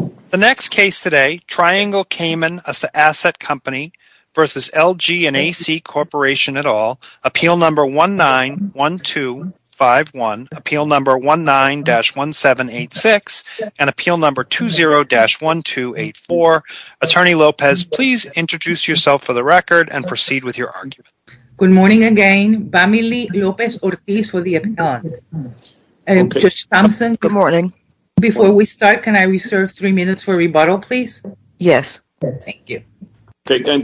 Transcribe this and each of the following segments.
et. al. Appeal No. 19-1786 and Appeal No. 20-1284. Attorney Lopez, please introduce yourself for the record and proceed with your argument. Good morning again. Vamily Lopez-Ortiz for the appellant. Judge Thompson, good morning. Before we start, can I reserve the floor for Judge Thompson? Yes. Thank you.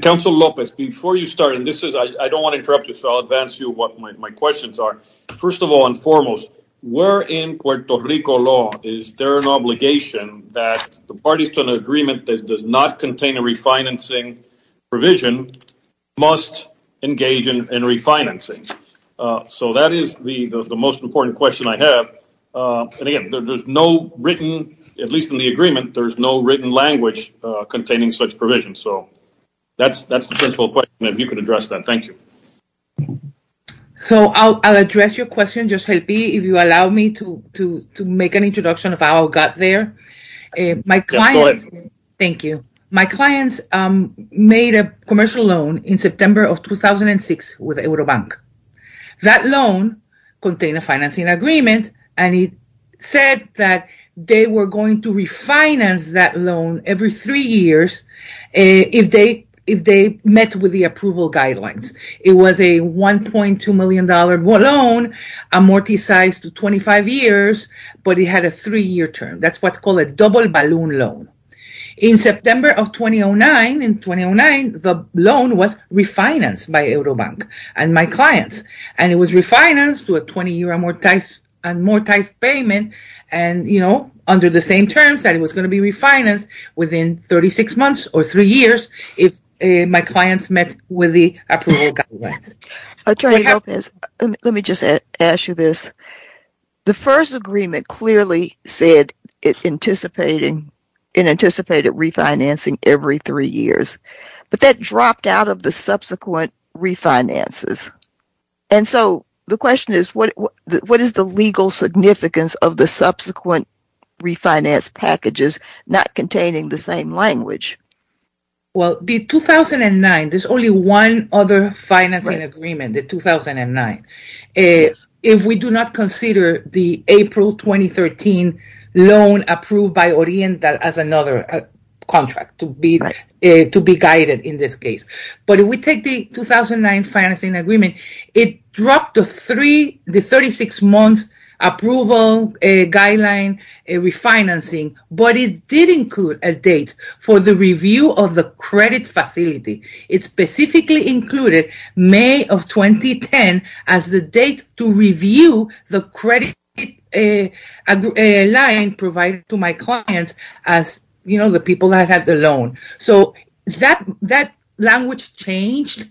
Counsel Lopez, before you start, I don't want to interrupt you, so I'll advance you what my questions are. First of all, and foremost, where in Puerto Rico law is there an obligation that the parties to an agreement that does not contain a refinancing provision must engage in refinancing? So that is the most important question I have. And again, there's no written, at least in the agreement, there's no written language containing such provisions. So that's the principal question, and if you could address that. Thank you. So I'll address your question, Judge Helpy, if you allow me to make an introduction of how I got there. Yes, go ahead. Thank you. My clients made a commercial loan in September of 2006 with Eurobank. That loan contained a financing agreement, and it said that they were going to refinance that loan every three years if they met with the approval guidelines. It was a $1.2 million loan amortized to 25 years, but it had a three-year term. That's what's called a double balloon loan. In September of 2009, the loan was refinanced by Eurobank and my clients, and it was refinanced to a 20-year amortized payment, under the same terms that it was going to be refinanced within 36 months or three years if my clients met with the approval guidelines. Attorney Lopez, let me just ask you this. The first agreement clearly said it anticipated refinancing every three years, but that dropped out of the subsequent refinances. The question is, what is the legal significance of the subsequent refinance packages not containing the same language? Well, the 2009, there's only one other financing agreement, the 2009. If we do not consider the April 2013 loan approved by Oriental as another contract to be guided in this case. But if we take the 2009 financing agreement, it dropped the 36-month approval guideline refinancing, but it did include a date for the review of the credit facility. It specifically included May of 2010 as the date to review the credit line provided to my clients as the people that had the loan. So that language changed,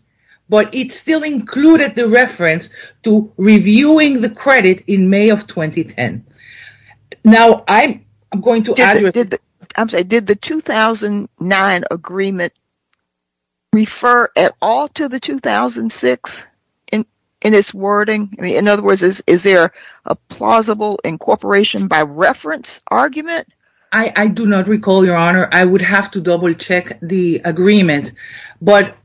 but it still included the reference to reviewing the credit in May of 2010. Did the 2009 agreement refer at all to the 2006 in its wording? In other words, is there a plausible incorporation by reference argument? I do not recall, Your Honor. I would have to double-check the agreement. But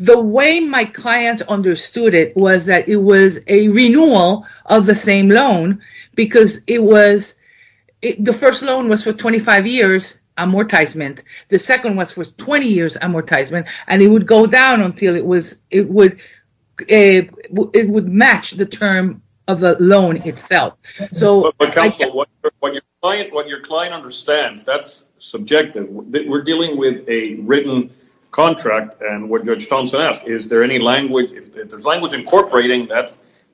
the way my clients understood it was that it was a renewal of the same loan because the first loan was for 25 years amortizement. The second was for 20 years amortizement, and it would go down until it would match the term of the loan itself. Counsel, what your client understands, that's subjective. We're dealing with a written contract, and what Judge Thompson asked, is there any language? If there's language incorporating,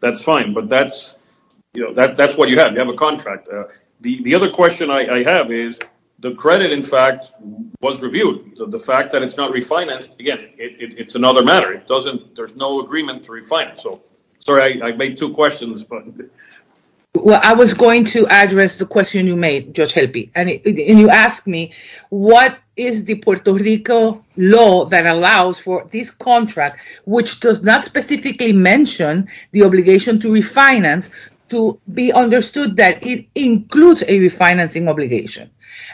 that's fine, but that's what you have. You have a contract. The other question I have is the credit, in fact, was reviewed. The fact that it's not refinanced, again, it's another matter. There's no agreement to refinance. Sorry, I made two questions. Well, I was going to address the question you made, Judge Helpe, and you asked me, what is the Puerto Rico law that allows for this contract, which does not specifically mention the obligation to refinance, to be understood that it includes a refinancing obligation?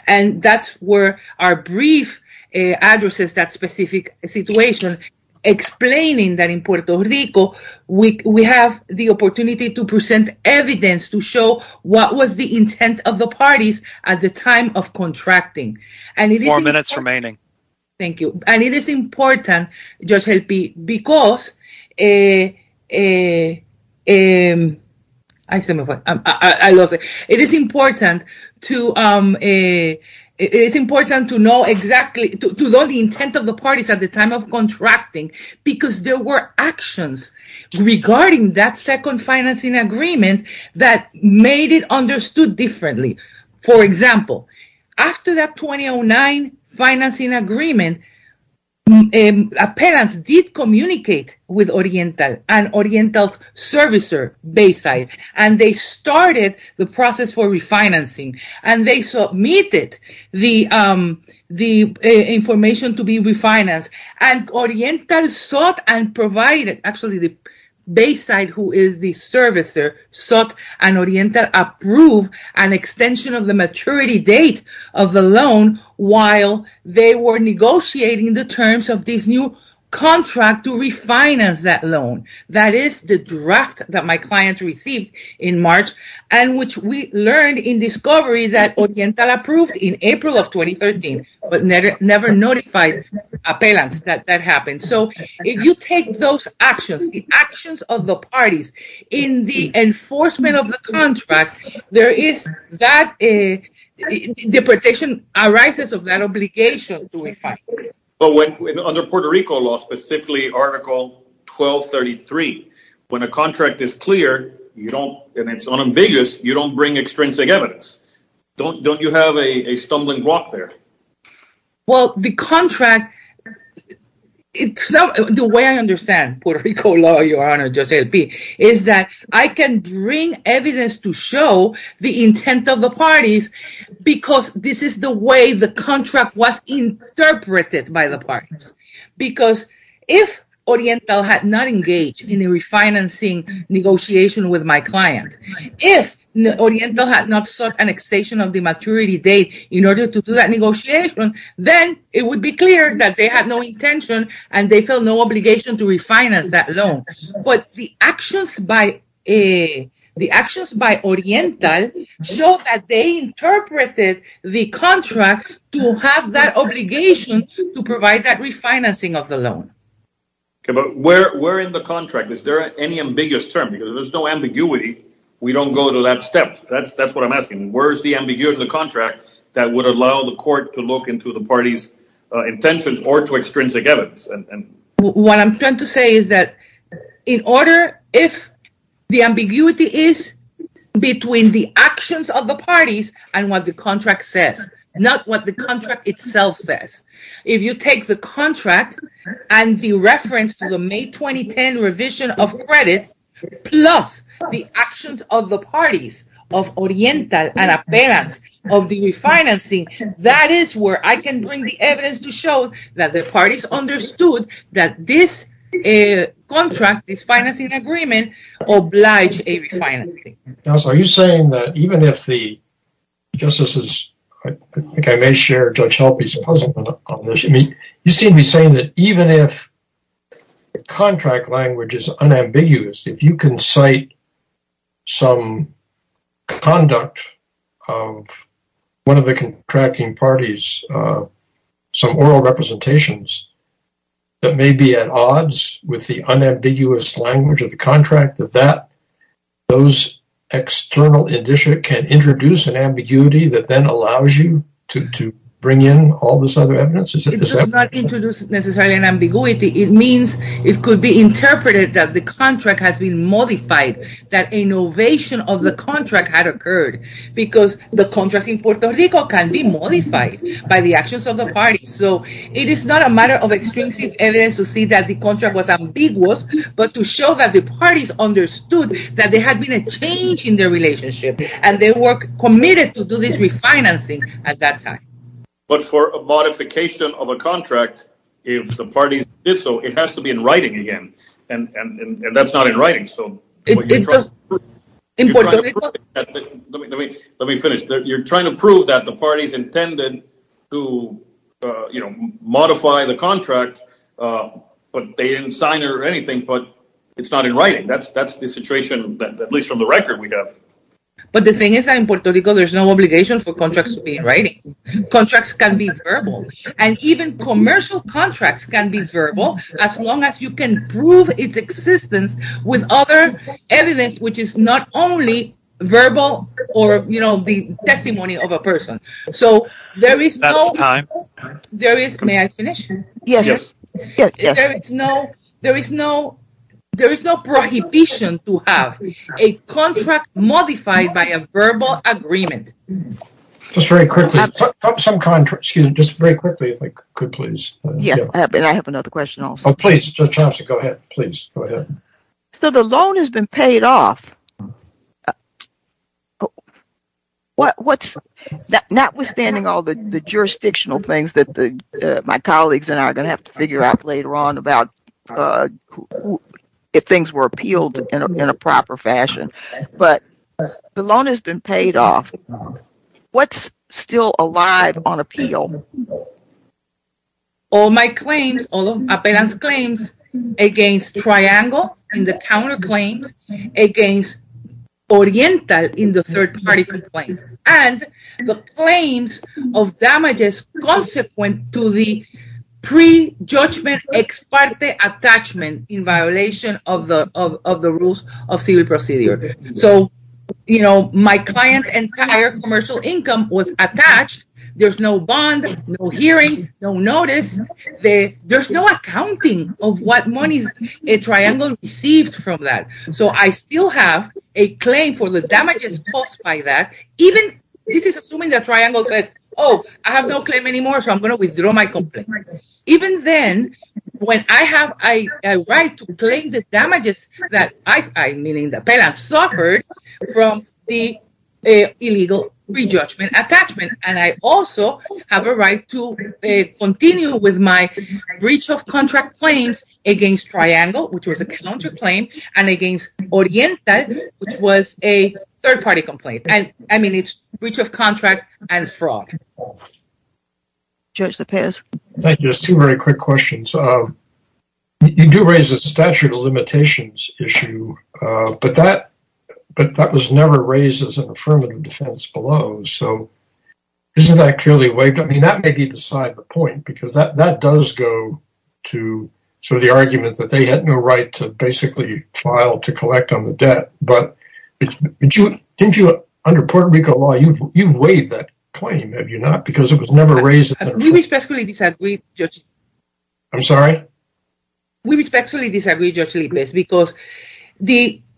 That's where our brief addresses that specific situation, explaining that in Puerto Rico, we have the opportunity to present evidence to show what was the intent of the parties at the time of contracting. Four minutes remaining. Thank you. And it is important, Judge Helpe, because it is important to know exactly, to know the intent of the parties at the time of contracting, because there were actions regarding that second financing agreement that made it understood differently. For example, after that 2009 financing agreement, Appellants did communicate with Oriental and Oriental's servicer, Bayside, and they started the process for refinancing, and they submitted the information to be refinanced, and Oriental sought and provided, actually, the Bayside, who is the servicer, sought and Oriental approved an extension of the maturity date of the loan while they were negotiating the terms of this new contract to refinance that loan. That is the draft that my client received in March, and which we learned in discovery that Oriental approved in April of 2013, so if you take those actions, the actions of the parties in the enforcement of the contract, there is that deportation arises of that obligation to refine. But under Puerto Rico law, specifically Article 1233, when a contract is clear, and it's unambiguous, you don't bring extrinsic evidence. Don't you have a stumbling block there? Well, the contract, the way I understand Puerto Rico law, Your Honor, Judge LP, is that I can bring evidence to show the intent of the parties because this is the way the contract was interpreted by the parties. Because if Oriental had not engaged in the refinancing negotiation with my client, if Oriental had not sought an extension of the maturity date in order to do that negotiation, then it would be clear that they had no intention and they felt no obligation to refinance that loan. But the actions by Oriental show that they interpreted the contract to have that obligation to provide that refinancing of the loan. But where in the contract, is there any ambiguous term? Because if there's no ambiguity, we don't go to that step. That's what I'm asking. Where is the ambiguity of the contract that would allow the court to look into the parties' intentions or to extrinsic evidence? What I'm trying to say is that in order, if the ambiguity is between the actions of the parties and what the contract says, not what the contract itself says. If you take the contract and the reference to the May 2010 revision of credit, plus the actions of the parties of Oriental and Appellant of the refinancing, that is where I can bring the evidence to show that the parties understood that this contract, this financing agreement, obliged a refinancing. Now, so are you saying that even if the – I guess this is – I think I may share Judge Halpy's puzzle on this. You seem to be saying that even if the contract language is unambiguous, if you can cite some conduct of one of the contracting parties, some oral representations, that may be at odds with the unambiguous language of the contract, that those external conditions can introduce an ambiguity that then allows you to bring in all this other evidence? It does not introduce necessarily an ambiguity. It means it could be interpreted that the contract has been modified, that innovation of the contract had occurred, because the contract in Puerto Rico can be modified by the actions of the parties. So it is not a matter of extrinsic evidence to see that the contract was ambiguous, but to show that the parties understood that there had been a change in their relationship, and they were committed to do this refinancing at that time. But for a modification of a contract, if the parties did so, it has to be in writing again, and that's not in writing. Let me finish. You're trying to prove that the parties intended to modify the contract, but they didn't sign it or anything, but it's not in writing. That's the situation, at least from the record we have. But the thing is that in Puerto Rico, there's no obligation for contracts to be in writing. Contracts can be verbal, and even commercial contracts can be verbal, as long as you can prove its existence with other evidence, which is not only verbal or the testimony of a person. So there is no prohibition to have a contract modified by a verbal agreement. Just very quickly, just very quickly, if we could please. Yeah, and I have another question also. Oh, please, Chancellor, go ahead. Please, go ahead. So the loan has been paid off. Notwithstanding all the jurisdictional things that my colleagues and I are going to have to figure out later on about if things were appealed in a proper fashion, but the loan has been paid off. What's still alive on appeal? All my claims, all of Apelan's claims against Triangle, and the counterclaims against Oriental in the third-party complaint, and the claims of damages consequent to the prejudgment ex parte attachment in violation of the rules of civil procedure. So, you know, my client's entire commercial income was attached. There's no bond, no hearing, no notice. There's no accounting of what money Triangle received from that. So I still have a claim for the damages caused by that. Even this is assuming that Triangle says, oh, I have no claim anymore, so I'm going to withdraw my complaint. Even then, when I have a right to claim the damages that Apelan suffered from the illegal prejudgment attachment, and I also have a right to continue with my breach of contract claims against Triangle, which was a counterclaim, and against Oriental, which was a third-party complaint. I mean, it's breach of contract and fraud. Judge LaPierre. Thank you. Just two very quick questions. You do raise the statute of limitations issue, but that was never raised as an affirmative defense below. So isn't that clearly waived? I mean, that may be beside the point, because that does go to sort of the argument that they had no right to basically file to collect on the debt. But didn't you, under Puerto Rico law, you've waived that claim, have you not? Because it was never raised. We respectfully disagree, Judge. I'm sorry? We respectfully disagree, Judge Lippes, because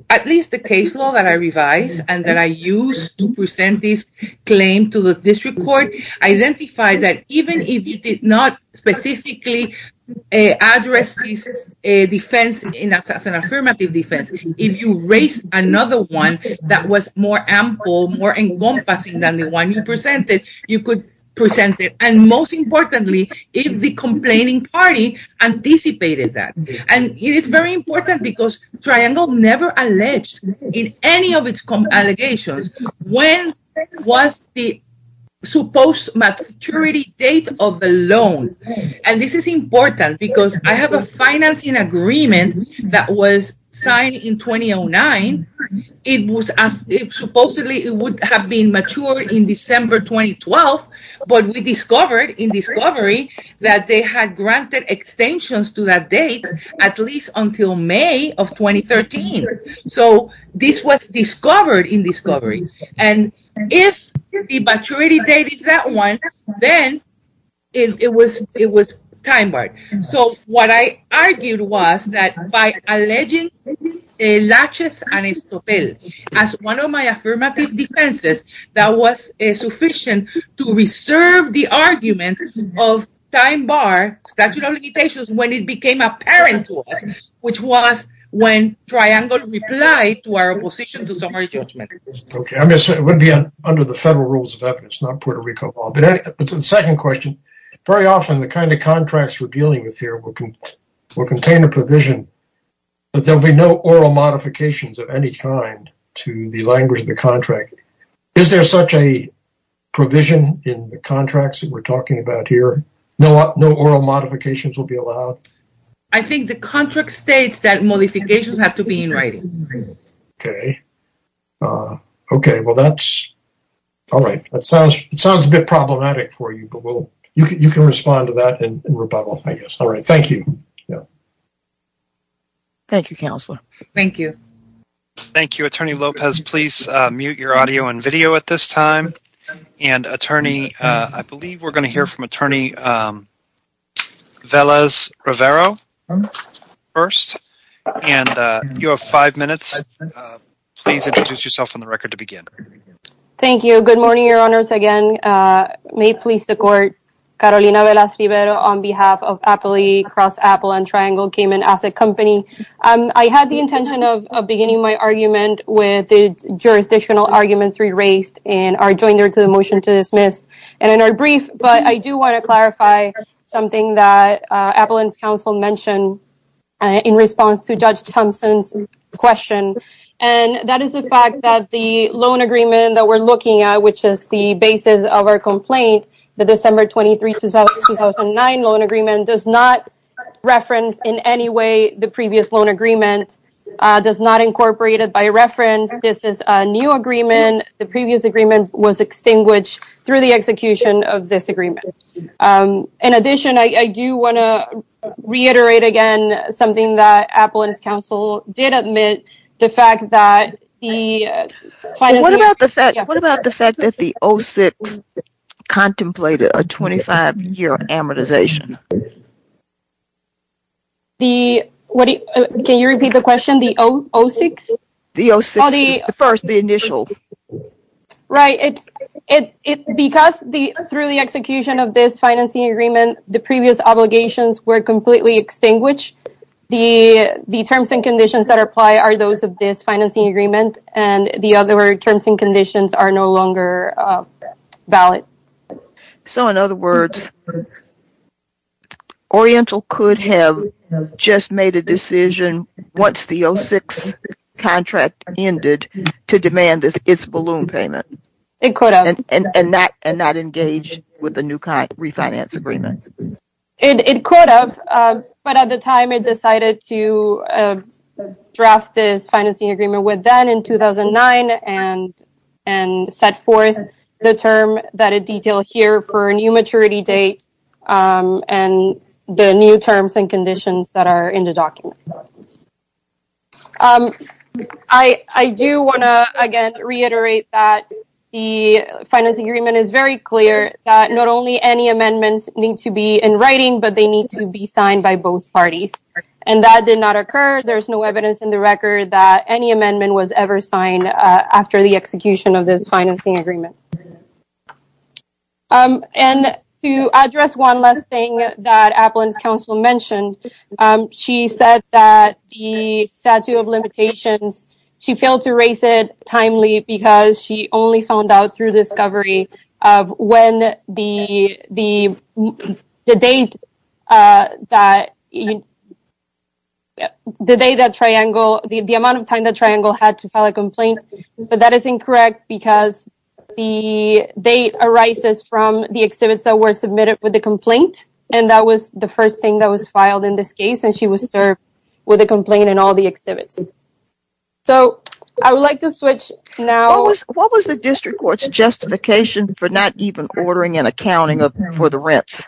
at least the case law that I revised, and that I used to present this claim to the district court, identified that even if you did not specifically address this defense as an affirmative defense, if you raised another one that was more ample, more encompassing than the one you presented, you could present it. And most importantly, if the complaining party anticipated that. And it is very important, because Triangle never alleged in any of its allegations when was the supposed maturity date of the loan. And this is important, because I have a financing agreement that was signed in 2009. Supposedly, it would have been matured in December 2012, but we discovered in discovery that they had granted extensions to that date at least until May of 2013. So this was discovered in discovery. And if the maturity date is that one, then it was time barred. So what I argued was that by alleging Laches and Estopel as one of my affirmative defenses, that was sufficient to reserve the argument of time bar statute of limitations when it became apparent to us, which was when Triangle replied to our opposition to summary judgment. It would be under the federal rules of evidence, not Puerto Rico law. But to the second question, very often the kind of contracts we're dealing with here will contain a provision that there will be no oral modifications of any kind to the language of the contract. Is there such a provision in the contracts that we're talking about here? No oral modifications will be allowed? I think the contract states that modifications have to be in writing. Okay. Well, that's all right. That sounds a bit problematic for you, but you can respond to that in rebuttal, I guess. All right. Thank you. Thank you, Counselor. Thank you. Thank you, Attorney Lopez. Please mute your audio and video at this time. And, Attorney, I believe we're going to hear from Attorney Velez-Rivero first. And you have five minutes. Please introduce yourself on the record to begin. Thank you. Good morning, Your Honors. Again, may it please the Court, Carolina Velez-Rivero on behalf of Appalachian Cross, Apple, and Triangle Cayman Asset Company. I had the intention of beginning my argument with the jurisdictional arguments re-raised and are adjoined to the motion to dismiss and are brief. But I do want to clarify something that Appalachian Council mentioned in response to Judge Thompson's question. And that is the fact that the loan agreement that we're looking at, which is the basis of our complaint, the December 23, 2009 loan agreement, does not reference in any way the previous loan agreement, does not incorporate it by reference. This is a new agreement. And the previous agreement was extinguished through the execution of this agreement. In addition, I do want to reiterate again something that Apple and its counsel did admit, the fact that the- What about the fact that the 06 contemplated a 25-year amortization? Can you repeat the question? The 06? The first, the initial. Right. Because through the execution of this financing agreement, the previous obligations were completely extinguished. The terms and conditions that apply are those of this financing agreement. And the other terms and conditions are no longer valid. So, in other words, Oriental could have just made a decision once the 06 contract ended to demand its balloon payment. It could have. And not engage with the new refinance agreement. It could have. But at the time, it decided to draft this financing agreement with them in 2009. And set forth the term that it detailed here for a new maturity date. And the new terms and conditions that are in the document. I do want to, again, reiterate that the financing agreement is very clear that not only any amendments need to be in writing, but they need to be signed by both parties. And that did not occur. There's no evidence in the record that any amendment was ever signed after the execution of this financing agreement. And to address one last thing that Applin's counsel mentioned, she said that the statute of limitations, she failed to raise it timely because she only found out through discovery of when the date that the day that triangle, the amount of time the triangle had to file a complaint. But that is incorrect because the date arises from the exhibits that were submitted with the complaint. And that was the first thing that was filed in this case. And she was served with a complaint in all the exhibits. So, I would like to switch now. What was the district court's justification for not even ordering and accounting for the rents?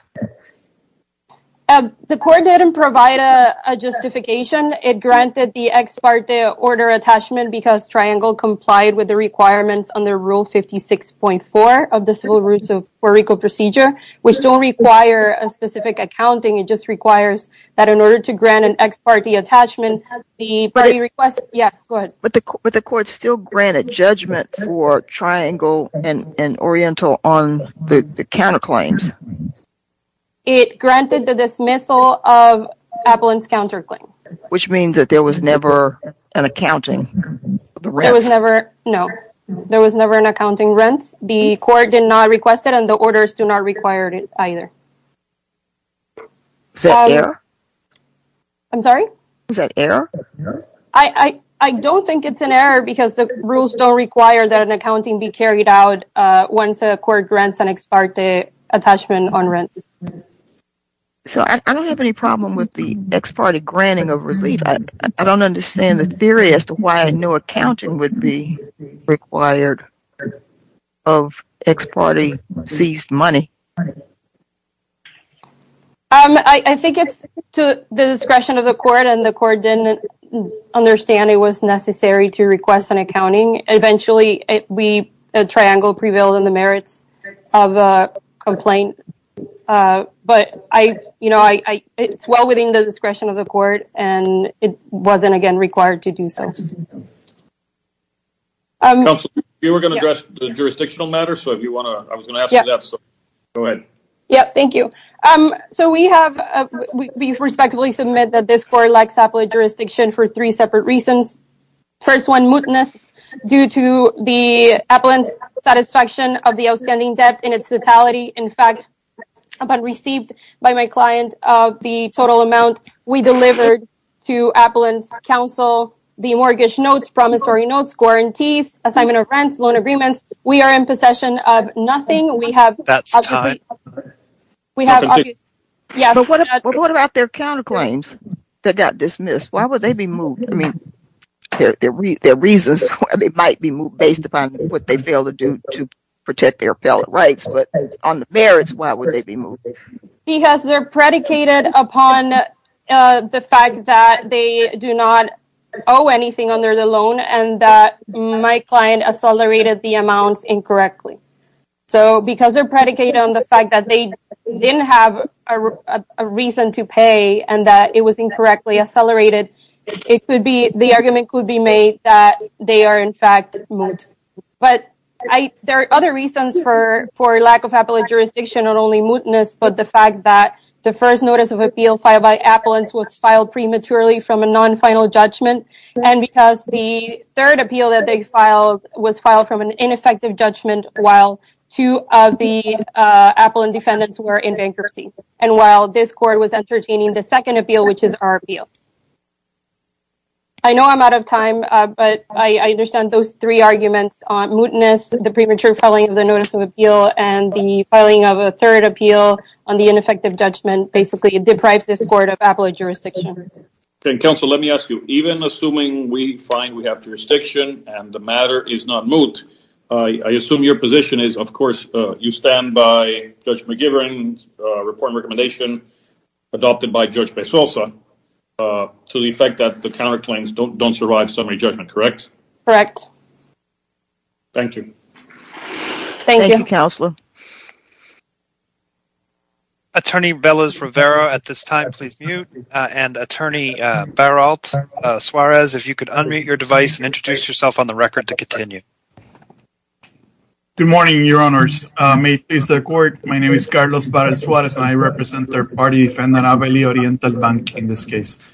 The court didn't provide a justification. It granted the ex parte order attachment because Triangle complied with the requirements under Rule 56.4 of the Civil Roots of Puerto Rico procedure, which don't require a specific accounting. It just requires that in order to grant an ex parte attachment, the request. Yeah, go ahead. But the court still granted judgment for Triangle and Oriental on the counterclaims. It granted the dismissal of Appellant's counterclaim. Which means that there was never an accounting? There was never, no. There was never an accounting rent. The court did not request it and the orders do not require it either. I'm sorry? Is that error? I don't think it's an error because the rules don't require that an accounting be carried out once a court grants an ex parte attachment on rents. So, I don't have any problem with the ex parte granting of relief. I don't understand the theory as to why no accounting would be required of ex parte seized money. I think it's to the discretion of the court and the court didn't understand it was necessary to request an accounting. Eventually, Triangle prevailed in the merits of a complaint. But, you know, it's well within the discretion of the court and it wasn't again required to do so. Counselor, you were going to address the jurisdictional matter. So, if you want to, I was going to ask you that. Go ahead. Yeah, thank you. So, we have, we respectfully submit that this court lacks appellate jurisdiction for three separate reasons. First one, mootness due to the Appellant's satisfaction of the outstanding debt in its totality. In fact, upon received by my client of the total amount we delivered to Appellant's counsel, the mortgage notes, promissory notes, guarantees, assignment of rents, loan agreements. We are in possession of nothing. That's time. But what about their counterclaims that got dismissed? Why would they be moot? I mean, their reasons, they might be moot based upon what they failed to do to protect their appellate rights. But on the merits, why would they be moot? Because they're predicated upon the fact that they do not owe anything under the loan and that my client accelerated the amounts incorrectly. So, because they're predicated on the fact that they didn't have a reason to pay and that it was incorrectly accelerated, it could be, the argument could be made that they are in fact moot. But there are other reasons for lack of appellate jurisdiction, not only mootness, but the fact that the first notice of appeal filed by Appellants was filed prematurely from a non-final judgment. And because the third appeal that they filed was filed from an ineffective judgment while two of the Appellant defendants were in bankruptcy. And while this court was entertaining the second appeal, which is our appeal. I know I'm out of time, but I understand those three arguments on mootness, the premature filing of the notice of appeal, and the filing of a third appeal on the ineffective judgment. Basically, it deprives this court of appellate jurisdiction. Counsel, let me ask you, even assuming we find we have jurisdiction and the matter is not moot, I assume your position is, of course, you stand by Judge McGivern's report and recommendation adopted by Judge Pesosa to the effect that the counterclaims don't survive summary judgment, correct? Correct. Thank you. Thank you, Counselor. Attorney Beliz Rivera, at this time, please mute. And Attorney Beralt Suarez, if you could unmute your device and introduce yourself on the record to continue. Good morning, Your Honors. May it please the court, my name is Carlos Beralt Suarez, and I represent Third Party Defender Aveli Oriental Bank in this case.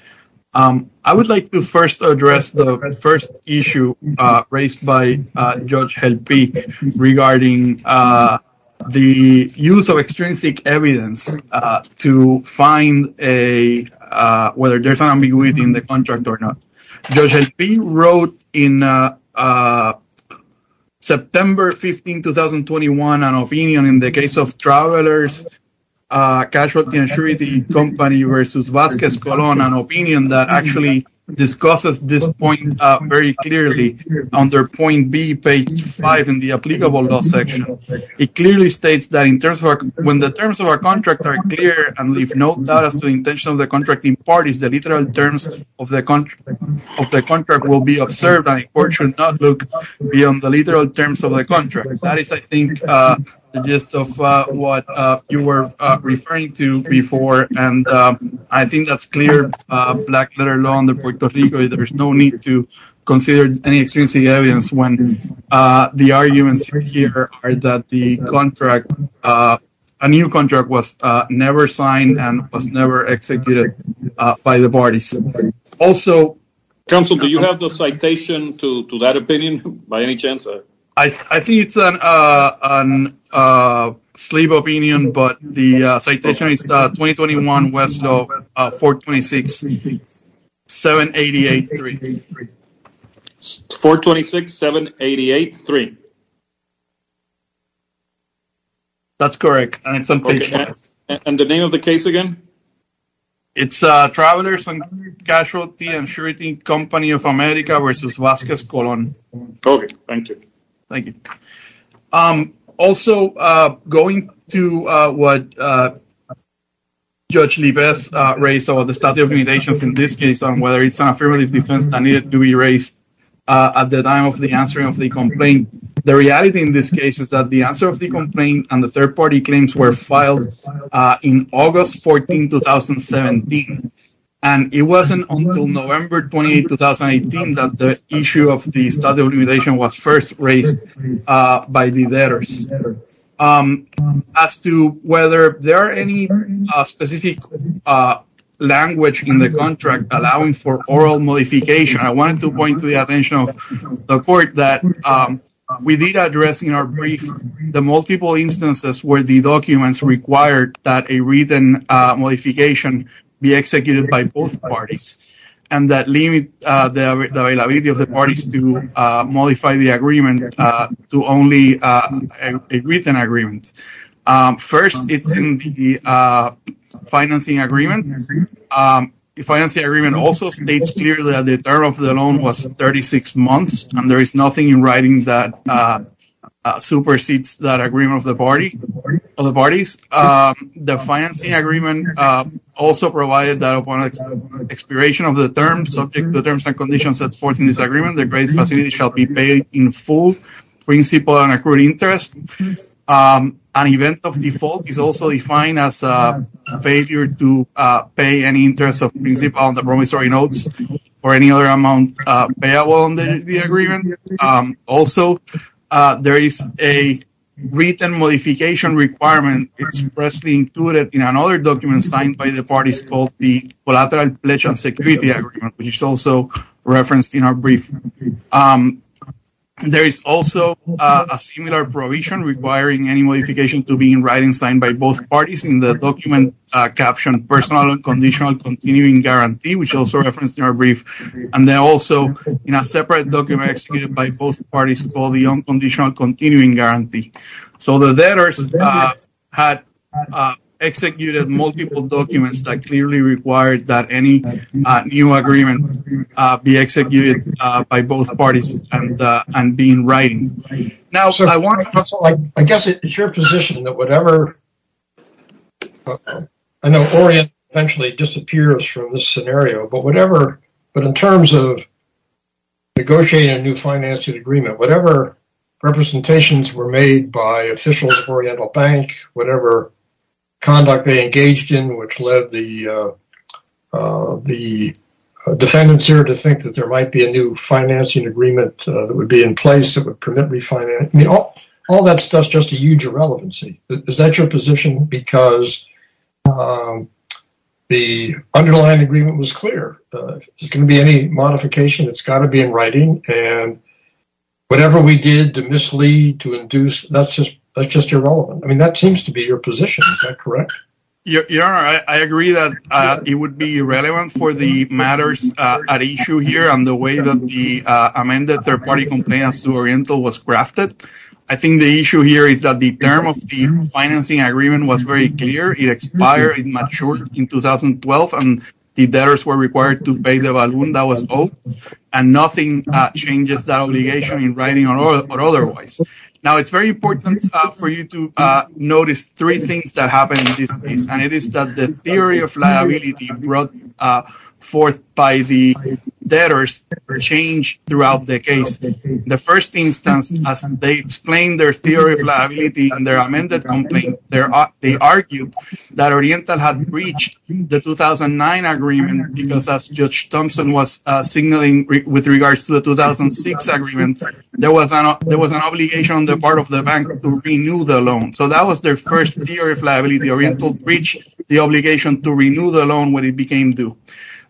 I would like to first address the first issue raised by Judge Helpic regarding the use of extrinsic evidence to find whether there's an ambiguity in the contract or not. Judge Helpic wrote in September 15, 2021, an opinion in the case of Travelers Casualty Insurance Company v. Vasquez Colon, an opinion that actually discusses this point very clearly under point B, page 5 in the applicable law section. It clearly states that when the terms of our contract are clear and leave no doubt as to the intention of the contract in part, the literal terms of the contract will be observed and the court should not look beyond the literal terms of the contract. That is, I think, the gist of what you were referring to before, and I think that's clear black letter law under Puerto Rico. There's no need to consider any extrinsic evidence when the arguments here are that the contract, a new contract, was never signed and was never executed by the parties. Also... Counsel, do you have the citation to that opinion by any chance? I think it's a slave opinion, but the citation is 2021 West of 426-788-3. 426-788-3. That's correct. And the name of the case again? It's Travelers and Casualty Insurance Company of America v. Vasquez Colon. Okay, thank you. Thank you. Also, going to what Judge Levesque raised about the statute of limitations in this case on whether it's an affirmative defense that needed to be raised at the time of the answering of the complaint, the reality in this case is that the answer of the complaint and the third party claims were filed in August 14, 2017. And it wasn't until November 28, 2018 that the issue of the statute of limitations was first raised by the debtors. As to whether there are any specific language in the contract allowing for oral modification, I wanted to point to the attention of the court that we did address in our brief the multiple instances where the documents required that a written modification be executed by both parties and that limit the availability of the parties to modify the agreement to only a written agreement. First, it's in the financing agreement. The financing agreement also states clearly that the term of the loan was 36 months, and there is nothing in writing that supersedes that agreement of the parties. The financing agreement also provided that upon expiration of the terms, subject to the terms and conditions set forth in this agreement, the great facility shall be paid in full principal and accrued interest. An event of default is also defined as a failure to pay any interest of principal on the promissory notes or any other amount payable on the agreement. Also, there is a written modification requirement expressly included in another document signed by the parties called the collateral pledge on security agreement, which is also referenced in our brief. There is also a similar provision requiring any modification to be in writing signed by both parties in the document captioned personal and conditional continuing guarantee, which is also referenced in our brief, and then also in a separate document executed by both parties called the unconditional continuing guarantee. So the letters had executed multiple documents that clearly required that any new agreement be executed by both parties and be in writing. I guess it is your position that whatever, I know Oriental eventually disappears from this scenario, but in terms of negotiating a new financing agreement, whatever representations were made by officials of Oriental Bank, whatever conduct they engaged in which led the defendants here to think that there might be a new financing agreement that would be in place that would permit refinancing, all that stuff is just a huge irrelevancy. Is that your position? Because the underlying agreement was clear. If there's going to be any modification, it's got to be in writing. And whatever we did to mislead, to induce, that's just irrelevant. I mean, that seems to be your position. Is that correct? Your Honor, I agree that it would be irrelevant for the matters at issue here and the way that the amended third-party complaint as to Oriental was crafted. I think the issue here is that the term of the financing agreement was very clear. It expired, it matured in 2012, and the debtors were required to pay the balloon that was owed, and nothing changes that obligation in writing or otherwise. Now, it's very important for you to notice three things that happened in this case, and it is that the theory of liability brought forth by the debtors changed throughout the case. The first instance, as they explained their theory of liability in their amended complaint, they argued that Oriental had breached the 2009 agreement because, as Judge Thompson was signaling with regards to the 2006 agreement, there was an obligation on the part of the bank to renew the loan. So that was their first theory of liability. Oriental breached the obligation to renew the loan when it became due.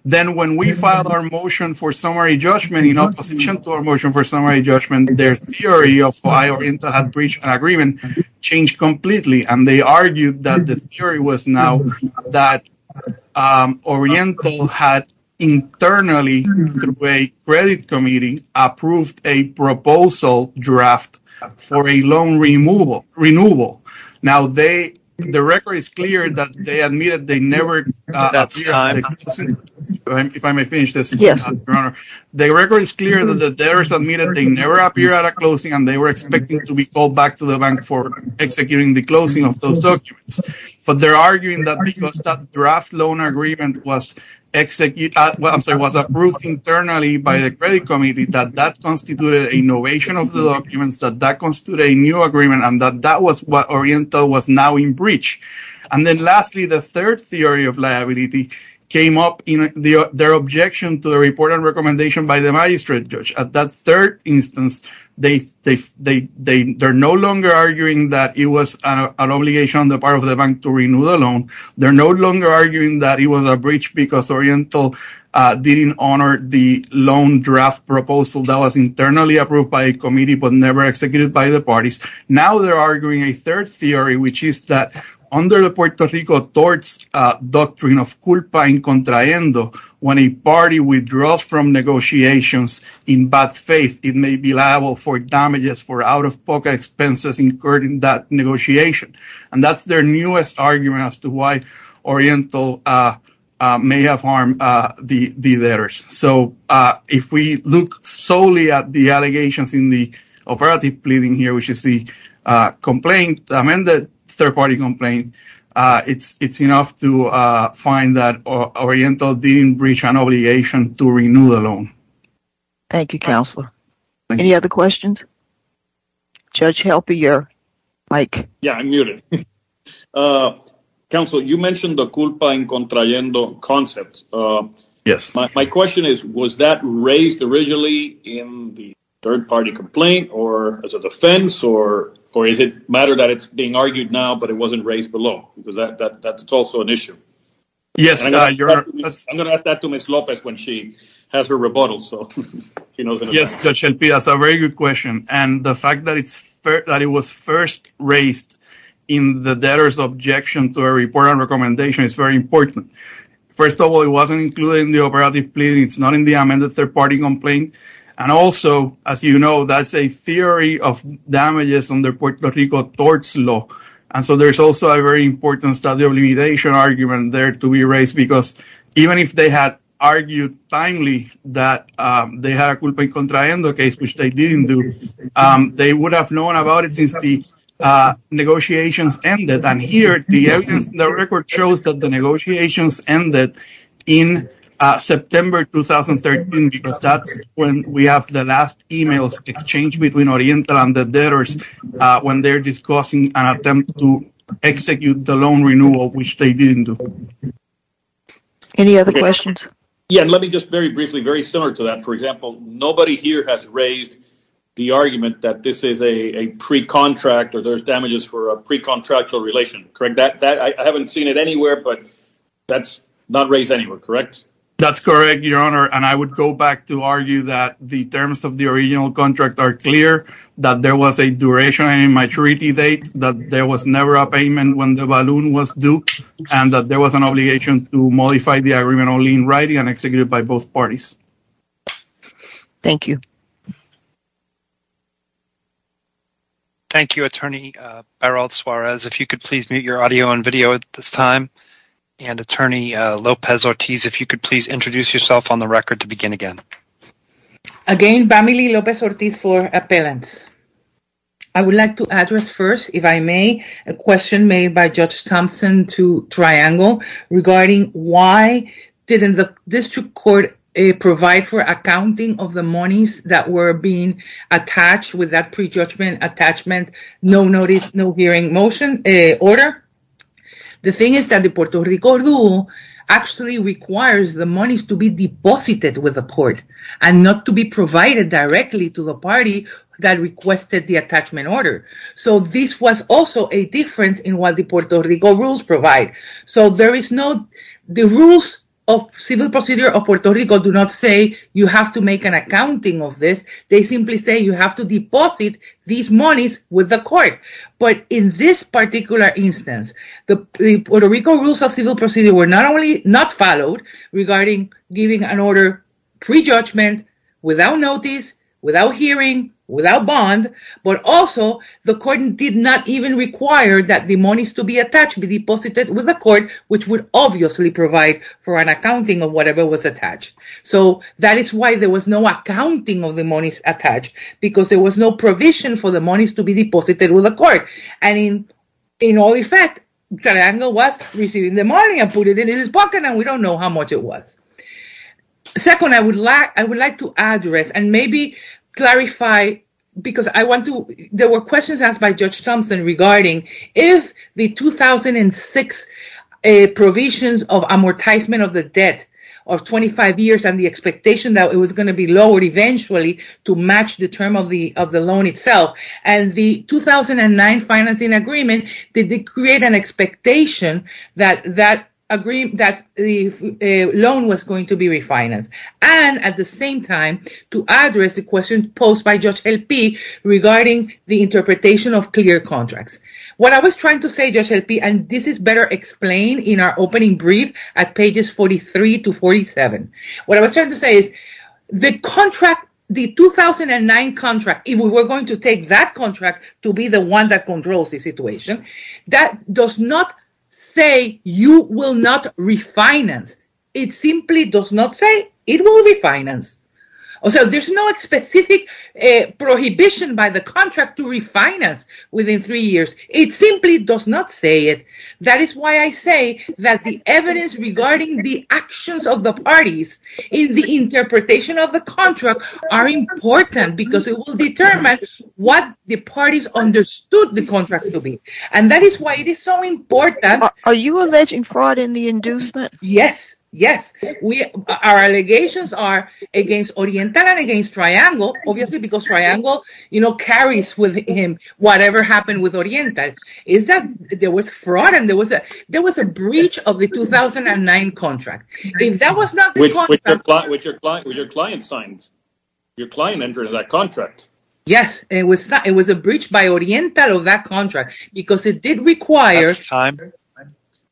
Then when we filed our motion for summary judgment in opposition to our motion for summary judgment, their theory of why Oriental had breached an agreement changed completely, and they argued that the theory was now that Oriental had internally, through a credit committee, approved a proposal draft for a loan renewal. Now, the record is clear that the debtors admitted they never appeared at a closing, and they were expecting to be called back to the bank for executing the closing of those documents. But they're arguing that because that draft loan agreement was approved internally by the credit committee, that that constituted a novation of the documents, that that constituted a new agreement, and that that was what Oriental was now in breach. And then lastly, the third theory of liability came up in their objection to the report and recommendation by the magistrate judge. At that third instance, they're no longer arguing that it was an obligation on the part of the bank to renew the loan. They're no longer arguing that it was a breach because Oriental didn't honor the loan draft proposal that was internally approved by a committee but never executed by the parties. Now they're arguing a third theory, which is that under the Puerto Rico torts doctrine of culpa en contraendo, when a party withdraws from negotiations in bad faith, it may be liable for damages for out-of-pocket expenses incurred in that negotiation. And that's their newest argument as to why Oriental may have harmed the debtors. So if we look solely at the allegations in the operative pleading here, which is the third-party complaint, it's enough to find that Oriental didn't breach an obligation to renew the loan. Thank you, Counselor. Any other questions? Judge Helper, you're mic. Yeah, I'm muted. Counselor, you mentioned the culpa en contraendo concept. Yes. My question is, was that raised originally in the third-party complaint or as a defense, or is it a matter that it's being argued now but it wasn't raised below? Because that's also an issue. Yes. I'm going to ask that to Ms. Lopez when she has her rebuttal. Yes, Judge Helper, that's a very good question. And the fact that it was first raised in the debtors' objection to a report on recommendation is very important. First of all, it wasn't included in the operative pleading. It's not in the amended third-party complaint. And also, as you know, that's a theory of damages under Puerto Rico torts law. And so there's also a very important study of limitation argument there to be raised, because even if they had argued timely that they had a culpa en contraendo case, which they didn't do, they would have known about it since the negotiations ended. And here, the evidence in the record shows that the negotiations ended in September 2013, because that's when we have the last emails exchanged between Oriental and the debtors when they're discussing an attempt to execute the loan renewal, which they didn't do. Any other questions? Yes, and let me just very briefly, very similar to that. For example, nobody here has raised the argument that this is a pre-contract, or there's damages for a pre-contractual relation, correct? I haven't seen it anywhere, but that's not raised anywhere, correct? That's correct, Your Honor. And I would go back to argue that the terms of the original contract are clear, that there was a duration in maturity date, that there was never a payment when the balloon was due, and that there was an obligation to modify the agreement only in writing and executed by both parties. Thank you. Thank you, Attorney Beral Suarez. If you could please mute your audio and video at this time. And Attorney Lopez-Ortiz, if you could please introduce yourself on the record to begin again. Again, Bamily Lopez-Ortiz for appellants. I would like to address first, if I may, a question made by Judge Thompson to Triangle regarding why didn't the district court provide for accounting of the monies that were being attached with that prejudgment attachment, no notice, no hearing motion order? The thing is that the Puerto Rico Rule actually requires the monies to be deposited with the court and not to be provided directly to the party that requested the attachment order. So this was also a difference in what the Puerto Rico rules provide. So there is no, the rules of civil procedure of Puerto Rico do not say you have to make an accounting of this. They simply say you have to deposit these monies with the court. But in this particular instance, the Puerto Rico rules of civil procedure were not only not followed regarding giving an order prejudgment without notice, without hearing, without bond, but also the court did not even require that the monies to be attached be deposited with the court which would obviously provide for an accounting of whatever was attached. So that is why there was no accounting of the monies attached because there was no provision for the monies to be deposited with the court. And in all effect, Triangle was receiving the money and put it in his pocket and we don't know how much it was. Second, I would like to address and maybe clarify, because I want to, there were questions asked by Judge Thompson regarding if the 2006 provisions of amortizement of the debt of 25 years and the expectation that it was going to be lowered eventually to match the term of the loan itself and the 2009 financing agreement, did it create an expectation that the loan was going to be refinanced? And at the same time, to address the question posed by Judge El-Pi regarding the interpretation of clear contracts. What I was trying to say, Judge El-Pi, and this is better explained in our opening brief at pages 43 to 47. What I was trying to say is the contract, the 2009 contract, if we were going to take that contract to be the one that controls the situation, that does not say you will not refinance. It simply does not say it will refinance. So there's no specific prohibition by the contract to refinance within three years. It simply does not say it. That is why I say that the evidence regarding the actions of the parties in the interpretation of the contract are important, because it will determine what the parties understood the contract to be. And that is why it is so important. Are you alleging fraud in the inducement? Yes, yes. Our allegations are against Oriental and against Triangle, obviously because Triangle carries with him whatever happened with Oriental. There was fraud and there was a breach of the 2009 contract. That was not the contract. With your client's signs. Your client entered that contract. Yes. It was a breach by Oriental of that contract, because it did require. That's time.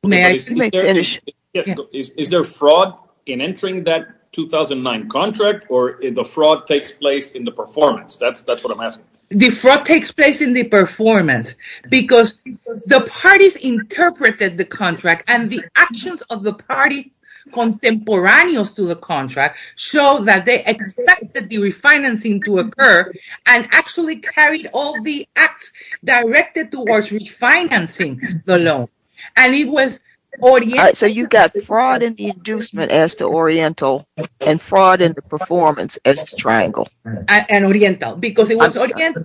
May I finish? Is there fraud in entering that 2009 contract, or the fraud takes place in the performance? That's what I'm asking. The fraud takes place in the performance, because the parties interpreted the contract and the actions of the party contemporaneous to the contract show that they expected the refinancing to occur and actually carried all the acts directed towards refinancing the loan. And it was Oriental. So you got fraud in the inducement as to Oriental and fraud in the performance as to Triangle. And Oriental, because it was Oriental.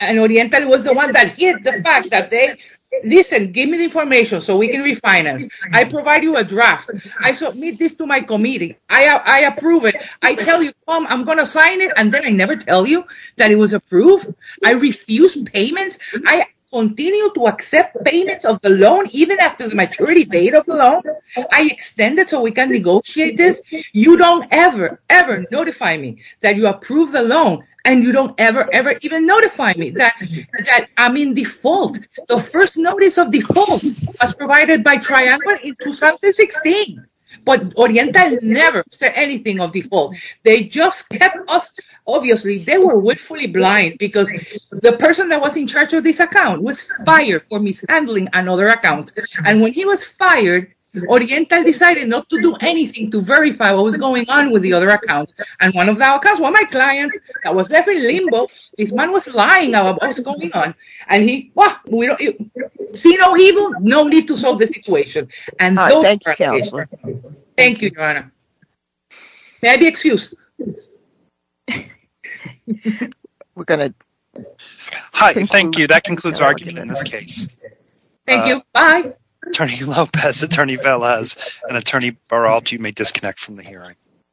And Oriental was the one that hid the fact that they, listen, give me the information so we can refinance. I provide you a draft. I submit this to my committee. I approve it. I tell you, I'm going to sign it, and then I never tell you that it was approved. I refuse payments. I continue to accept payments of the loan, even after the maturity date of the loan. I extend it so we can negotiate this. You don't ever, ever notify me that you approve the loan, and you don't ever, ever even notify me that I'm in default. The first notice of default was provided by Triangle in 2016. But Oriental never said anything of default. They just kept us, obviously, they were willfully blind, because the person that was in charge of this account was fired for mishandling another account. And when he was fired, Oriental decided not to do anything to verify what was going on with the other account. And one of the accounts was my client's. I was left in limbo. This man was lying about what was going on. And he, well, see no evil, no need to solve the situation. And those are the cases. Thank you, Joanna. May I be excused? Hi, thank you. That concludes our argument in this case. Thank you. Bye. Attorney Lopez, Attorney Velez, and Attorney Baral, you may disconnect from the hearing.